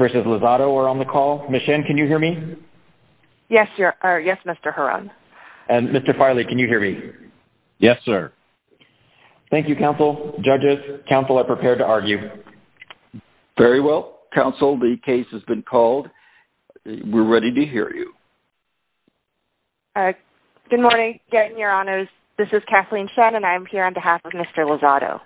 are on the call. Ms. Shen, can you hear me? Yes, Mr. Huron. And Mr. Farley, can you hear me? Yes, sir. Thank you, counsel. Judges, counsel are prepared to argue. Very well, counsel. The case has been called. We're ready to hear you. Good morning, Your Honors. This is Kathleen Shen, and I'm here on behalf of Mr. Lozado.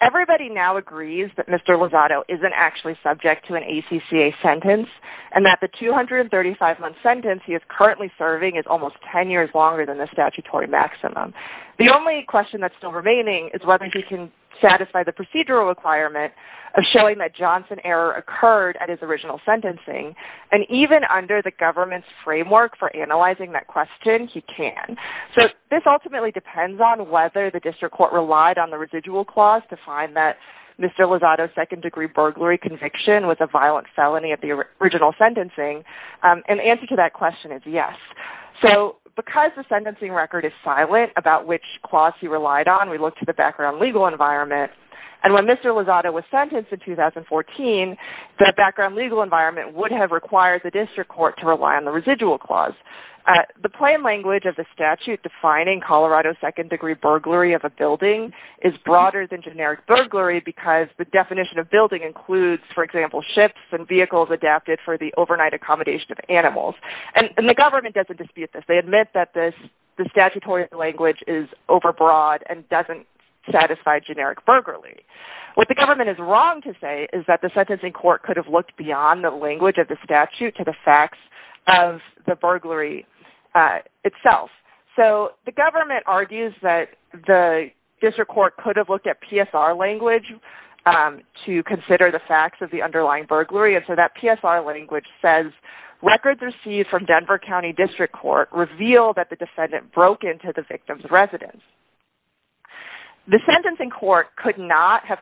Everybody now agrees that Mr. Lozado isn't actually subject to an ACCA sentence, and that the 235-month sentence he is currently serving is almost 10 years longer than the statutory maximum. The only question that's still remaining is whether he can satisfy the procedural requirement of showing that Johnson error occurred at his original sentencing, and even under the government's framework for analyzing that question, he can. So this ultimately depends on whether the district court relied on the residual clause to find that Mr. Lozado's second-degree burglary conviction was a violent felony at the original sentencing, and the answer to that question is yes. So because the sentencing record is silent about which clause he relied on, we look to the background legal environment, and when Mr. Lozado was sentenced in 2014, the background legal environment would have required the district court to rely on the residual clause. The plain language of the statute defining Colorado second-degree burglary of a building is broader than generic burglary because the definition of building includes, for example, ships and vehicles adapted for the overnight accommodation of animals, and the government doesn't dispute this. They admit that the statutory language is overbroad and doesn't satisfy generic burglary. What the government is wrong to say is that the sentencing court could have looked beyond the language of the statute to the facts of the burglary itself. So the government argues that the district court could have looked at PSR language to consider the facts of the underlying burglary, and so that PSR language says records received from Denver County District Court reveal that the defendant broke into the victim's residence. The sentencing court could not have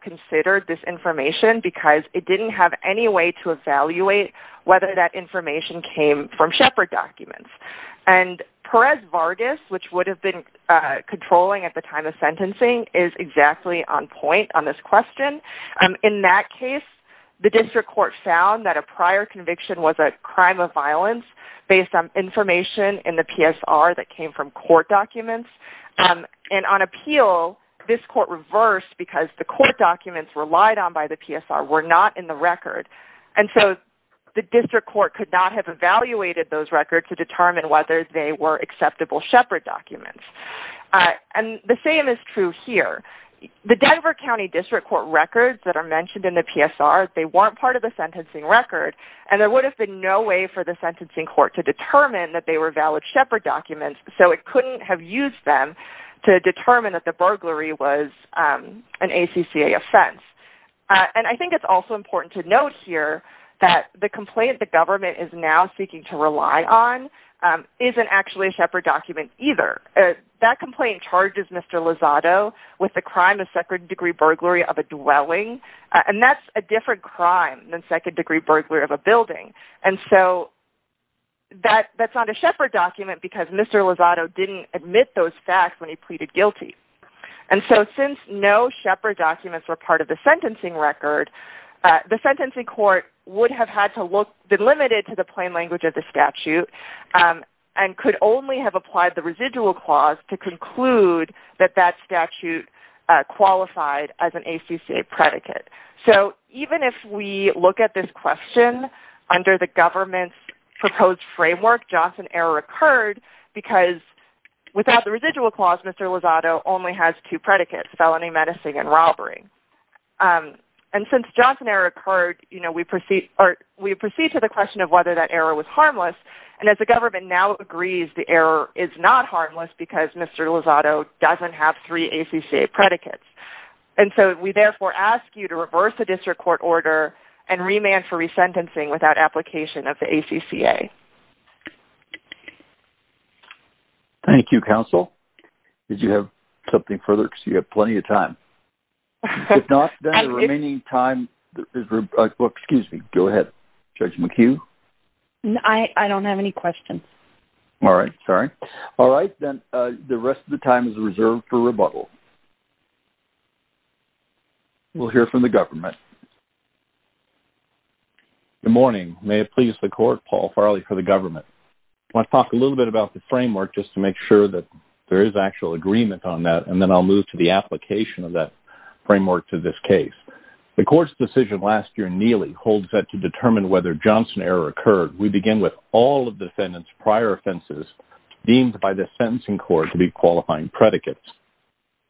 evaluated whether that information came from Shepard documents, and Perez Vargas, which would have been controlling at the time of sentencing, is exactly on point on this question. In that case, the district court found that a prior conviction was a crime of violence based on information in the PSR that came from court documents, and on appeal, this court reversed because the court documents relied on by the PSR were not in the record, and so the district court could not have evaluated those records to determine whether they were acceptable Shepard documents. And the same is true here. The Denver County District Court records that are mentioned in the PSR, they weren't part of the sentencing record, and there would have been no way for the sentencing court to determine that they were valid Shepard documents, so it couldn't have used them to an ACCA offense. And I think it's also important to note here that the complaint the government is now seeking to rely on isn't actually a Shepard document either. That complaint charges Mr. Lozado with the crime of second-degree burglary of a dwelling, and that's a different crime than second- degree burglary of a building, and so that's not a Shepard document because Mr. Lozado didn't admit those facts when he pleaded guilty. And so since no Shepard documents were part of the sentencing record, the sentencing court would have had to look- been limited to the plain language of the statute and could only have applied the residual clause to conclude that that statute qualified as an ACCA predicate. So even if we look at this question under the government's proposed framework, Joston error occurred because without the And since Joston error occurred, you know, we proceed or we proceed to the question of whether that error was harmless, and as the government now agrees the error is not harmless because Mr. Lozado doesn't have three ACCA predicates. And so we therefore ask you to reverse the district court order and remand for resentencing without application of the ACCA. Thank you counsel. Did you have something further because you have plenty of time. If not, then the remaining time is- excuse me, go ahead Judge McHugh. I don't have any questions. All right, sorry. All right, then the rest of the time is reserved for rebuttal. We'll hear from the government. Good morning. May it please the court, Paul Farley for the government. I want to talk a little bit about the framework just to make sure that there is actual agreement on that, and then I'll move to the application of that framework to this case. The court's decision last year in Neely holds that to determine whether Joston error occurred, we begin with all of defendants prior offenses deemed by the sentencing court to be qualifying predicates.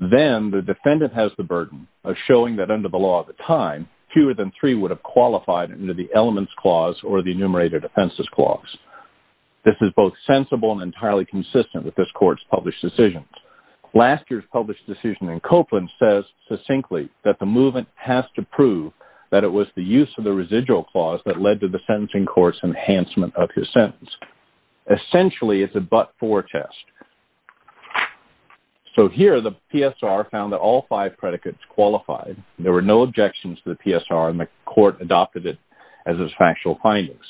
Then the defendant has the burden of showing that under the law at the time, fewer than three would have qualified under the elements clause or the enumerated offenses clause. This is sensible and entirely consistent with this court's published decisions. Last year's published decision in Copeland says succinctly that the movement has to prove that it was the use of the residual clause that led to the sentencing court's enhancement of his sentence. Essentially, it's a but-for test. So here the PSR found that all five predicates qualified. There were no objections to the PSR and the court adopted it as its factual findings.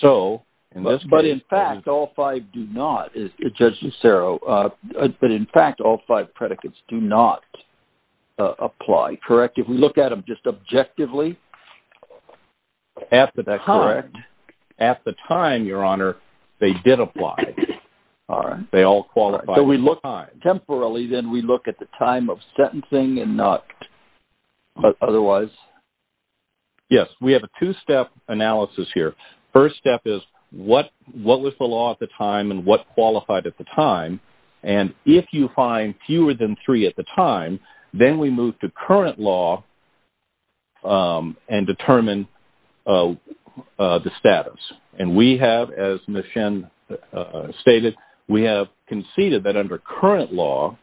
So, but in fact all five do not, Judge Nisero, but in fact all five predicates do not apply, correct? If we look at them just objectively? That's correct. At the time, your honor, they did apply. All right. They all qualified. Temporarily, then we look at the time of sentencing and not what was the law at the time and what qualified at the time. And if you find fewer than three at the time, then we move to current law and determine the status. And we have, as Ms. Shen stated, we have conceded that under current law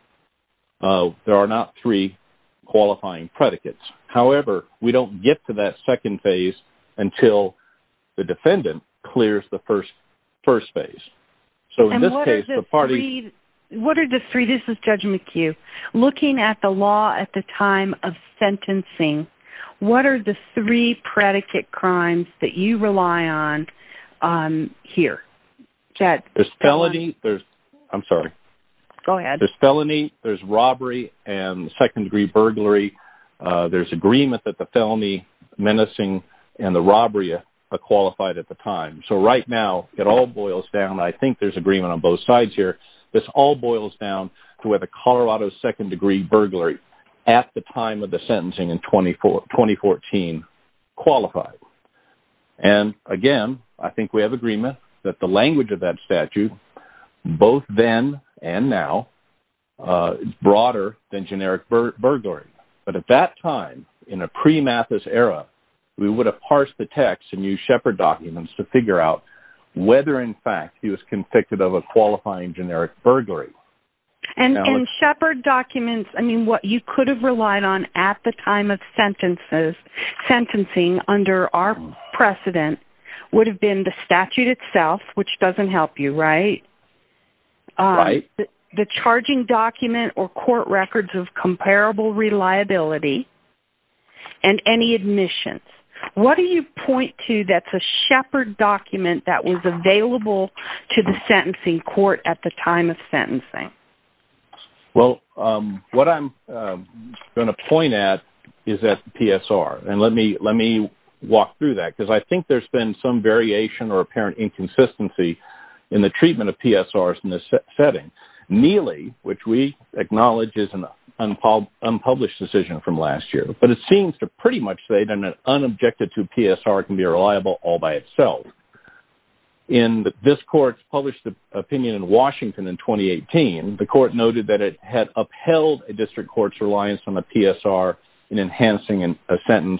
there are not three qualifying predicates. However, we don't get to that first phase. So in this case, the party... What are the three? This is Judge McHugh. Looking at the law at the time of sentencing, what are the three predicate crimes that you rely on here? There's felony, there's... I'm sorry. Go ahead. There's felony, there's robbery, and second-degree burglary. There's agreement that the felony, menacing, and the robbery are qualified at the time. So right now, it all boils down. I think there's agreement on both sides here. This all boils down to where the Colorado second-degree burglary at the time of the sentencing in 2014 qualified. And again, I think we have agreement that the language of that statute, both then and now, is broader than generic burglary. But at that time, in a pre-Mathis era, we would have parsed the text and used Shepard documents to figure out whether, in fact, he was convicted of a qualifying generic burglary. And Shepard documents, I mean, what you could have relied on at the time of sentencing under our precedent would have been the statute itself, which doesn't help you, right? Right. The charging document or comparable reliability and any admissions. What do you point to that's a Shepard document that was available to the sentencing court at the time of sentencing? Well, what I'm going to point at is that PSR. And let me walk through that because I think there's been some variation or apparent inconsistency in the treatment of PSRs in this setting. Neely, which we published a decision from last year. But it seems to pretty much say that an unobjected to PSR can be reliable all by itself. In this court's published opinion in Washington in 2018, the court noted that it had upheld a district court's reliance on a PSR in enhancing a sentence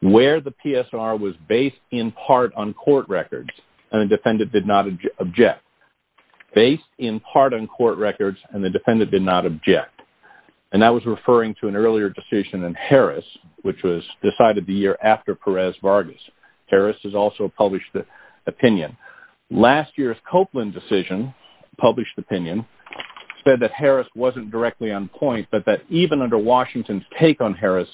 where the PSR was based in part on court records and the defendant did not object. Based in part on court records and the defendant did not object. And that was referring to an earlier decision in Harris, which was decided the year after Perez Vargas. Harris has also published the opinion. Last year's Copeland decision, published opinion, said that Harris wasn't directly on point but that even under Washington's take on Harris,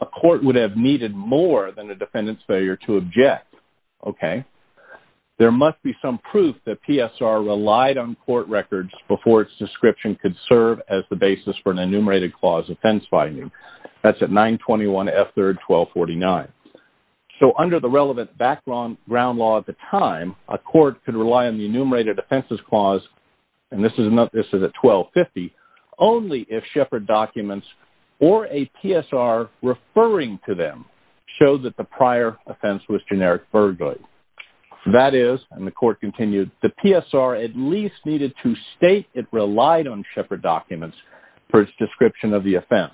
a court would have needed more than a defendant's failure to object. Okay. There must be some proof that PSR relied on court records before its description could serve as the basis for an enumerated clause offense finding. That's at 921 F 3rd 1249. So under the relevant background ground law at the time, a court could rely on the enumerated offenses clause, and this is not this is at 1250, only if Shepard documents or a PSR referring to them showed that the prior offense was generic burglary. That is, and the court continued, the PSR at least needed to state it relied on Shepard documents for its description of the offense.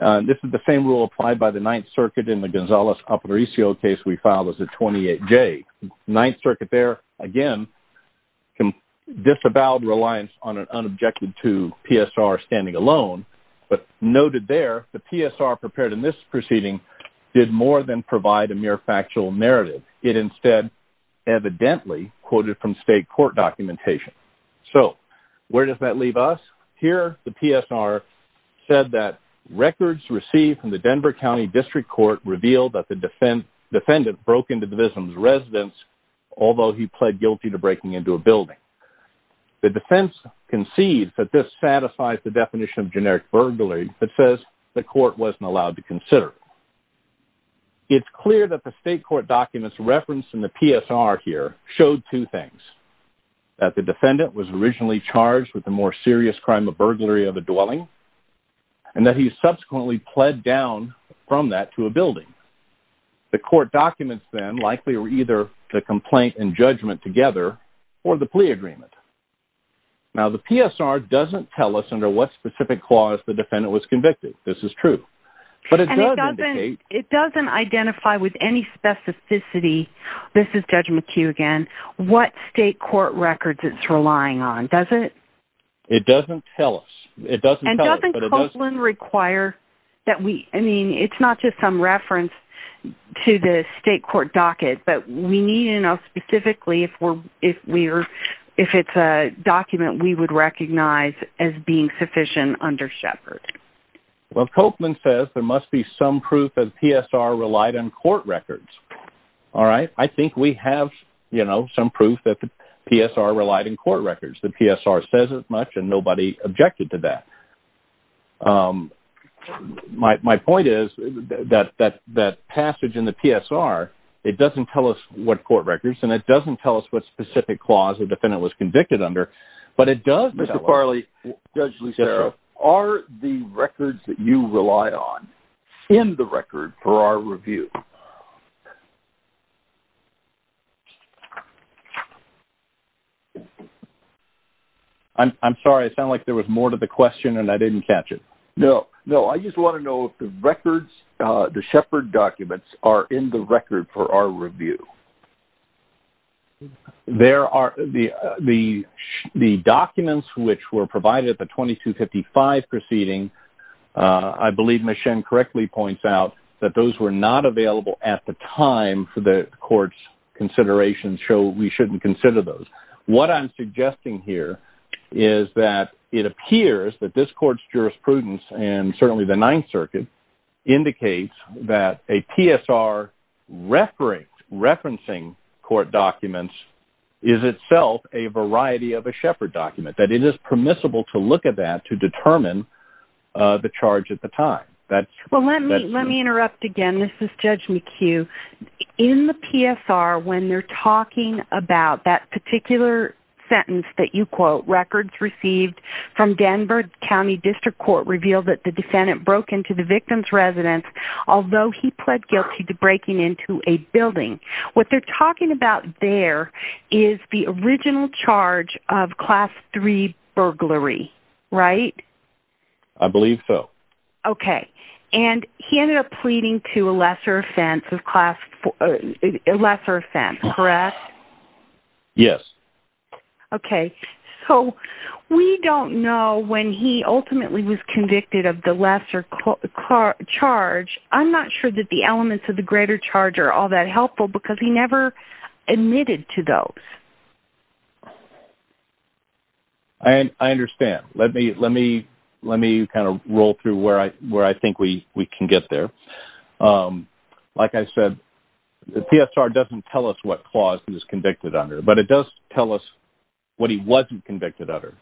This is the same rule applied by the Ninth Circuit in the Gonzales upper ECO case we filed as a 28 J. Ninth Circuit there, again, disavowed reliance on an unobjected to PSR standing alone, but noted there the PSR prepared in this proceeding did more than provide a mere factual narrative. It instead evidently quoted from state court documentation. So where does that leave us? Here the PSR said that records received from the Denver County District Court revealed that the defendant broke into the victim's residence, although he pled guilty to breaking into a building. The defense concedes that this satisfies the definition of generic burglary that says the court wasn't allowed to consider. It's clear that the state court documents referenced in the PSR here showed two things, that the defendant was originally charged with the more serious crime of burglary of a dwelling, and that he subsequently pled down from that to a building. The court documents then likely were either the complaint and judgment together or the defendant was convicted. This is true. But it doesn't identify with any specificity, this is judgment to you again, what state court records it's relying on, does it? It doesn't tell us. And doesn't Copeland require that we, I mean, it's not just some reference to the state court docket, but we need to know specifically if we're, if it's a document we would recognize as being sufficient under Shepard. Well, Copeland says there must be some proof that PSR relied on court records. All right, I think we have, you know, some proof that the PSR relied in court records. The PSR says it much and nobody objected to that. My point is that that passage in the PSR, it doesn't tell us what court records and it doesn't tell us what specific clause the defendant was charged with. Are the records that you rely on in the record for our review? I'm sorry, I sound like there was more to the question and I didn't catch it. No, no, I just want to know if the records, the Shepard documents are in the record for our review. There are, the documents which were provided at the 2255 proceeding, I believe Ms. Shen correctly points out that those were not available at the time for the court's considerations, so we shouldn't consider those. What I'm suggesting here is that it appears that this court's referencing court documents is itself a variety of a Shepard document, that it is permissible to look at that to determine the charge at the time. Well, let me let me interrupt again, this is Judge McHugh. In the PSR, when they're talking about that particular sentence that you quote, records received from Denver County District Court revealed that the defendant broke into the victim's residence, although he pled guilty to breaking into a building. What they're talking about there is the original charge of class 3 burglary, right? I believe so. Okay, and he ended up pleading to a lesser offense of class 4, a lesser offense, correct? Yes. Okay, so we don't know when he ultimately was convicted of the lesser charge. I'm not sure that the elements of the greater charge are all that helpful, because he never admitted to those. I understand. Let me kind of roll through where I think we can get there. Like I said, the PSR doesn't tell us what clause he was convicted under, but it does tell us what he wasn't convicted under.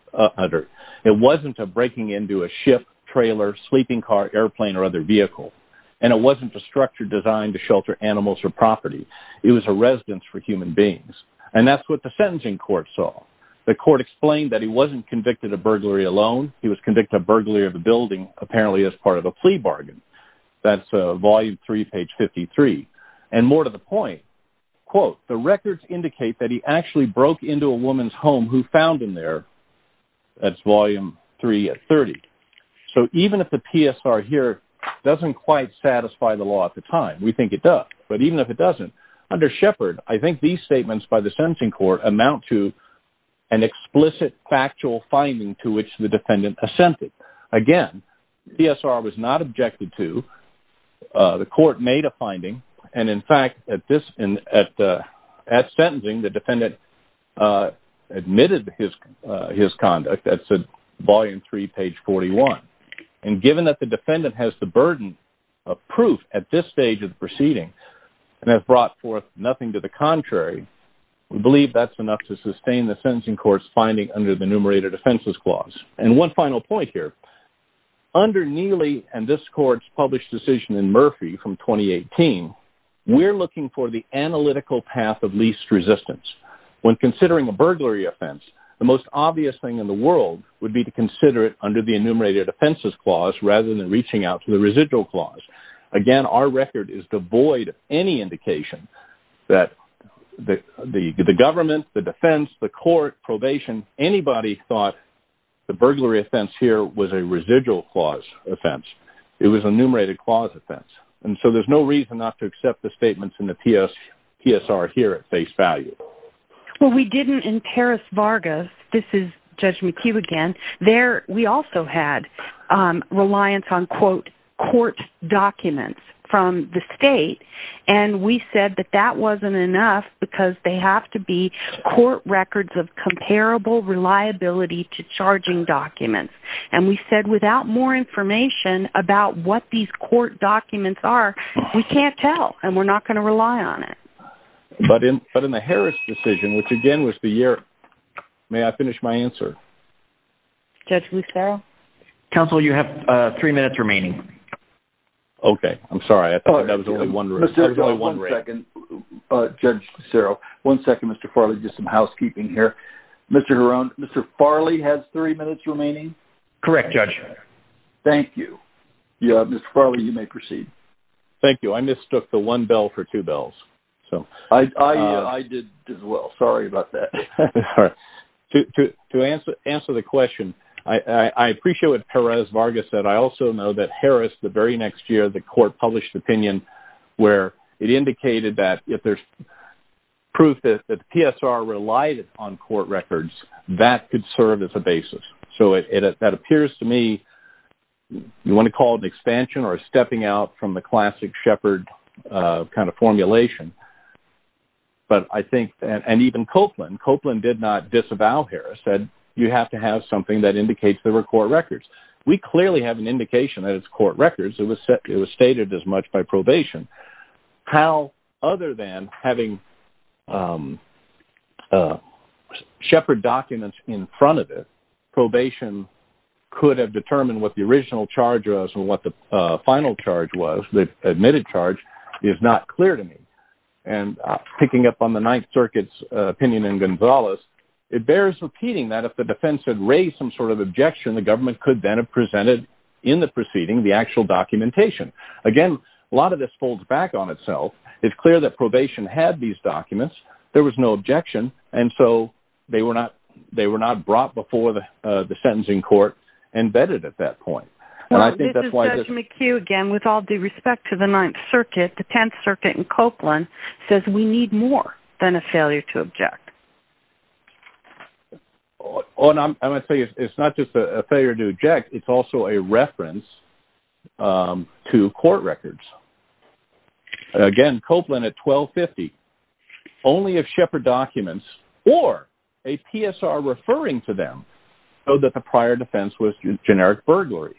It wasn't a breaking into a ship, trailer, sleeping car, airplane, or other vehicle. And it wasn't a structure designed to shelter animals or property. It was a residence for human beings. And that's what the sentencing court saw. The court explained that he wasn't convicted of burglary alone. He was convicted of burglary of the building, apparently as part of a plea bargain. That's volume 3, page 53. And more to the point, quote, the records indicate that he actually broke into a woman's home who found him there. That's volume 3 at 30. So even if the PSR here doesn't quite satisfy the law at the time, we think it does, but even if it doesn't, under Shepard, I think these statements by the sentencing court amount to an explicit factual finding to which the defendant assented. Again, PSR was not objected to. The court made a decision. At sentencing, the defendant admitted his conduct. That's volume 3, page 41. And given that the defendant has the burden of proof at this stage of the proceeding and has brought forth nothing to the contrary, we believe that's enough to sustain the sentencing court's finding under the Numerator Defenses Clause. And one final point here. Under Neely and this court's published decision in Murphy from 2018, we're looking for the analytical path of least resistance. When considering a burglary offense, the most obvious thing in the world would be to consider it under the Enumerated Offenses Clause rather than reaching out to the Residual Clause. Again, our record is devoid of any indication that the government, the defense, the court, probation, anybody thought the burglary offense here was a residual clause offense. It was a enumerated clause offense. And so there's no reason not to accept the statements in the PSR here at face value. Well, we didn't in Paris Vargas. This is Judge McHugh again. There, we also had reliance on, quote, court documents from the state. And we said that that wasn't enough because they have to be court records of comparable reliability to charging documents. And we said without more information about what these court documents are, we can't tell and we're not going to rely on it. But in, but in the Harris decision, which again was the year, may I finish my answer? Judge Lucero? Counsel, you have three minutes remaining. Okay, I'm sorry. I thought that was only one. Judge Lucero, one second, Mr. Farley, just some housekeeping here. Mr. Heron, Mr. Farley has three minutes remaining. Correct, Judge. Thank you. Mr. Farley, you may proceed. Thank you. I mistook the one bell for two bells. I did as well. Sorry about that. To answer the question, I appreciate what Perez Vargas said. I also know that Harris, the very next year, the court published opinion where it indicated that if there's proof that the PSR relied on court records, that could serve as a basis. So it, that appears to me, you want to call it an expansion or a stepping out from the classic Shepard kind of formulation. But I think, and even Copeland, Copeland did not disavow Harris, said you have to have something that indicates there were court records. We clearly have an indication that it's court records. It was set, it was stated as much by probation. How, other than having Shepard documents in front of it, probation could have determined what the original charge was and what the final charge was, the admitted charge, is not clear to me. And picking up on the Ninth Circuit's opinion in Gonzales, it bears repeating that if the defense had raised some sort of objection, the government could then have presented in the proceeding the actual documentation. Again, a lot of this folds back on itself. It's clear that probation had these documents, there was no objection, and so they were not, they were not brought before the sentencing court and vetted at that point. And I think that's why... Judge McHugh, again, with all due respect to the Ninth Circuit, the Tenth Circuit and Copeland says we need more than a failure to object. Oh, and I'm going to tell you, it's not just a failure to object, it's also a reference to court records. Again, Copeland at 1250, only if Shepard documents or a PSR referring to them showed that the prior defense was generic burglary.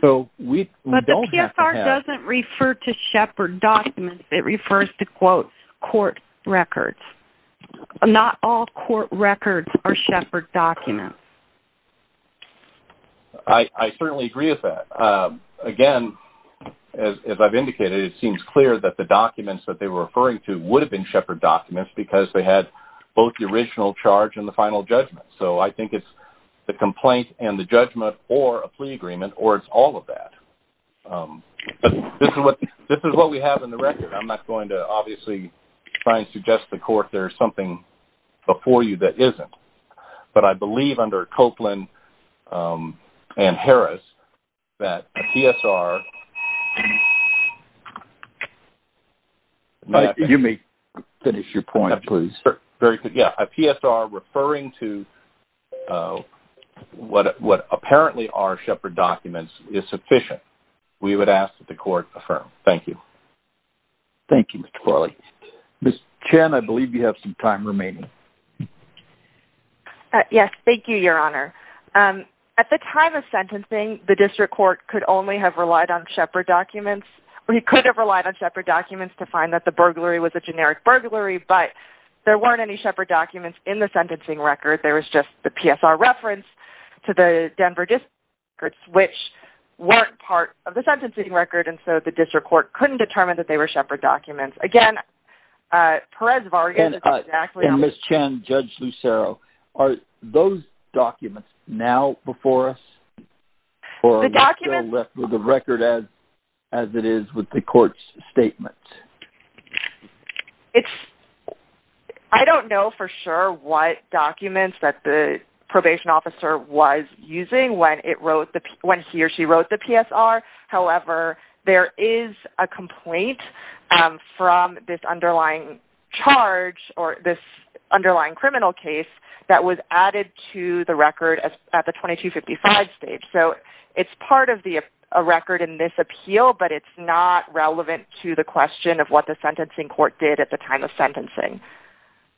So we don't have to have... But the PSR doesn't refer to Shepard documents, it refers to, court records. Not all court records are Shepard documents. I certainly agree with that. Again, as I've indicated, it seems clear that the documents that they were referring to would have been Shepard documents because they had both the original charge and the final judgment. So I think it's the complaint and the judgment or a plea agreement or it's all of that. This is what we have in the record. I'm not going to obviously try and suggest to the court there's something before you that isn't, but I believe under Copeland and Harris that a PSR... You may finish your point, please. Yeah, a PSR referring to what apparently are Shepard documents is sufficient. We would ask that the Thank you, Mr. Corley. Ms. Chen, I believe you have some time remaining. Yes, thank you, Your Honor. At the time of sentencing, the district court could only have relied on Shepard documents. We could have relied on Shepard documents to find that the burglary was a generic burglary, but there weren't any Shepard documents in the sentencing record. There was just the PSR reference to the Denver district, which weren't part of the sentencing record, and so the district court couldn't determine that they were Shepard documents. Again, Perez-Vargas is exactly... And Ms. Chen, Judge Lucero, are those documents now before us or are we still left with the record as it is with the court's statement? It's... I don't know for sure what documents that the probation officer was complaint from this underlying charge or this underlying criminal case that was added to the record at the 2255 stage, so it's part of the record in this appeal, but it's not relevant to the question of what the sentencing court did at the time of sentencing.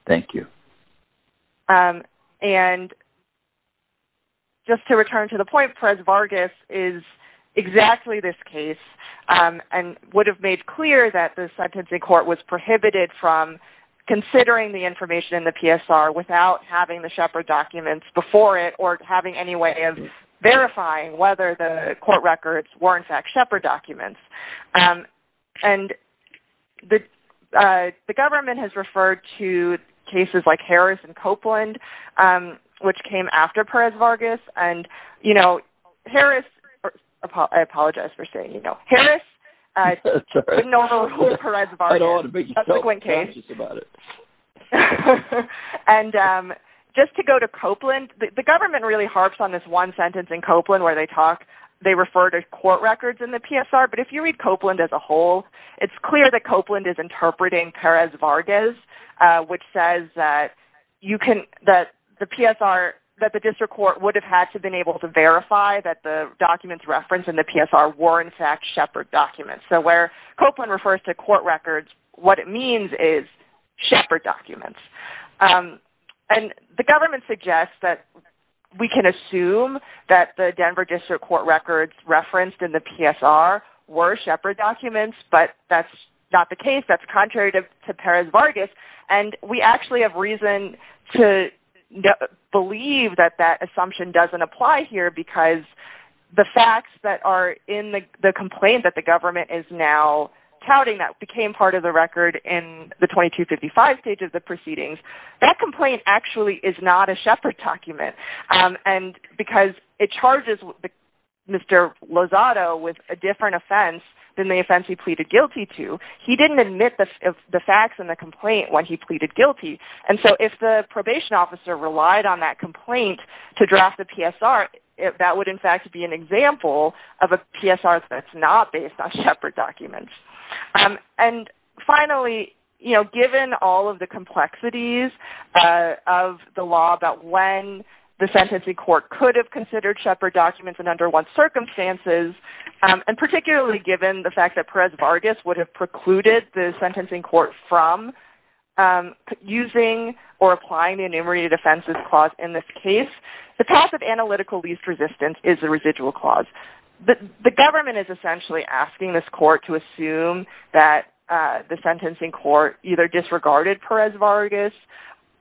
Thank you. And just to return to the point, Perez-Vargas is exactly this case and would have made clear that the sentencing court was prohibited from considering the information in the PSR without having the Shepard documents before it or having any way of verifying whether the court records were in fact Shepard documents, and the government has referred to cases like Harris and Copeland, which came after Perez-Vargas, and, you know, Harris... I apologize for saying, you know, Harris didn't know who Perez-Vargas was, and just to go to Copeland, the government really harps on this one sentence in Copeland where they talk, they refer to court records in the PSR, but if you read Copeland as a whole, it's clear that Copeland is interpreting Perez-Vargas, which says that you can, that the PSR, that the district court would have had to been able to verify that the documents referenced in the PSR were in fact Shepard documents. So where Copeland refers to court records, what it means is Shepard documents, and the government suggests that we can assume that the Denver District Court records referenced in the PSR were Shepard documents, but that's not the case. That's contrary to Perez-Vargas, and we actually have reason to believe that that assumption doesn't apply here, because the facts that are in the complaint that the government is now touting that became part of the record in the 2255 stage of the proceedings, that complaint actually is not a Shepard document, and because it charges Mr. Lozado with a different offense than the offense he pleaded the facts in the complaint when he pleaded guilty, and so if the probation officer relied on that complaint to draft the PSR, that would in fact be an example of a PSR that's not based on Shepard documents. And finally, you know, given all of the complexities of the law about when the sentencing court could have considered Shepard documents and under what circumstances, and particularly given the fact that Perez-Vargas would have precluded the sentencing court from using or applying the enumerated offenses clause in this case, the passive analytical least resistance is a residual clause. The government is essentially asking this court to assume that the sentencing court either disregarded Perez-Vargas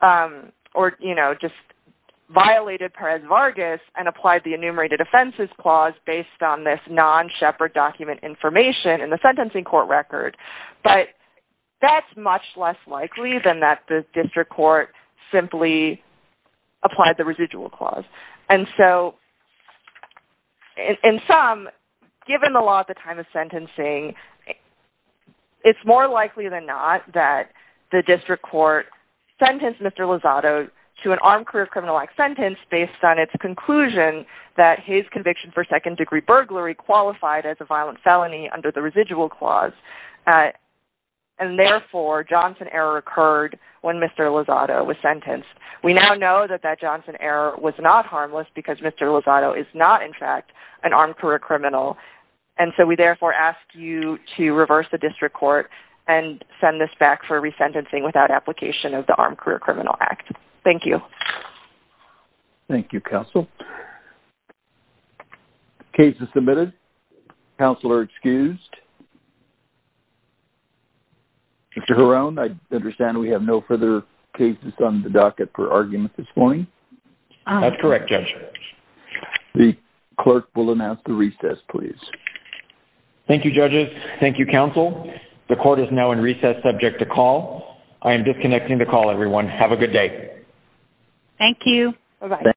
or, you know, just violated Perez-Vargas and applied the enumerated offenses clause based on this non-Shepard document information in the sentencing court record, but that's much less likely than that the district court simply applied the residual clause. And so in sum, given the law at the time of sentencing, it's more likely than not that the district court sentenced Mr. Lozado to an armed career criminal act sentence based on its conclusion that his conviction for second-degree burglary qualified as a felony under the residual clause. And therefore, Johnson error occurred when Mr. Lozado was sentenced. We now know that that Johnson error was not harmless because Mr. Lozado is not in fact an armed career criminal, and so we therefore ask you to reverse the district court and send this back for resentencing without application of the Armed Career Criminal Act. Thank you. Thank you, counsel. Cases submitted. Counselor excused. Mr. Horan, I understand we have no further cases on the docket for argument this morning? That's correct, Judge. The clerk will announce the recess, please. Thank you, judges. Thank you, counsel. The court is now in recess, subject to call. I am adjourned. Thank you.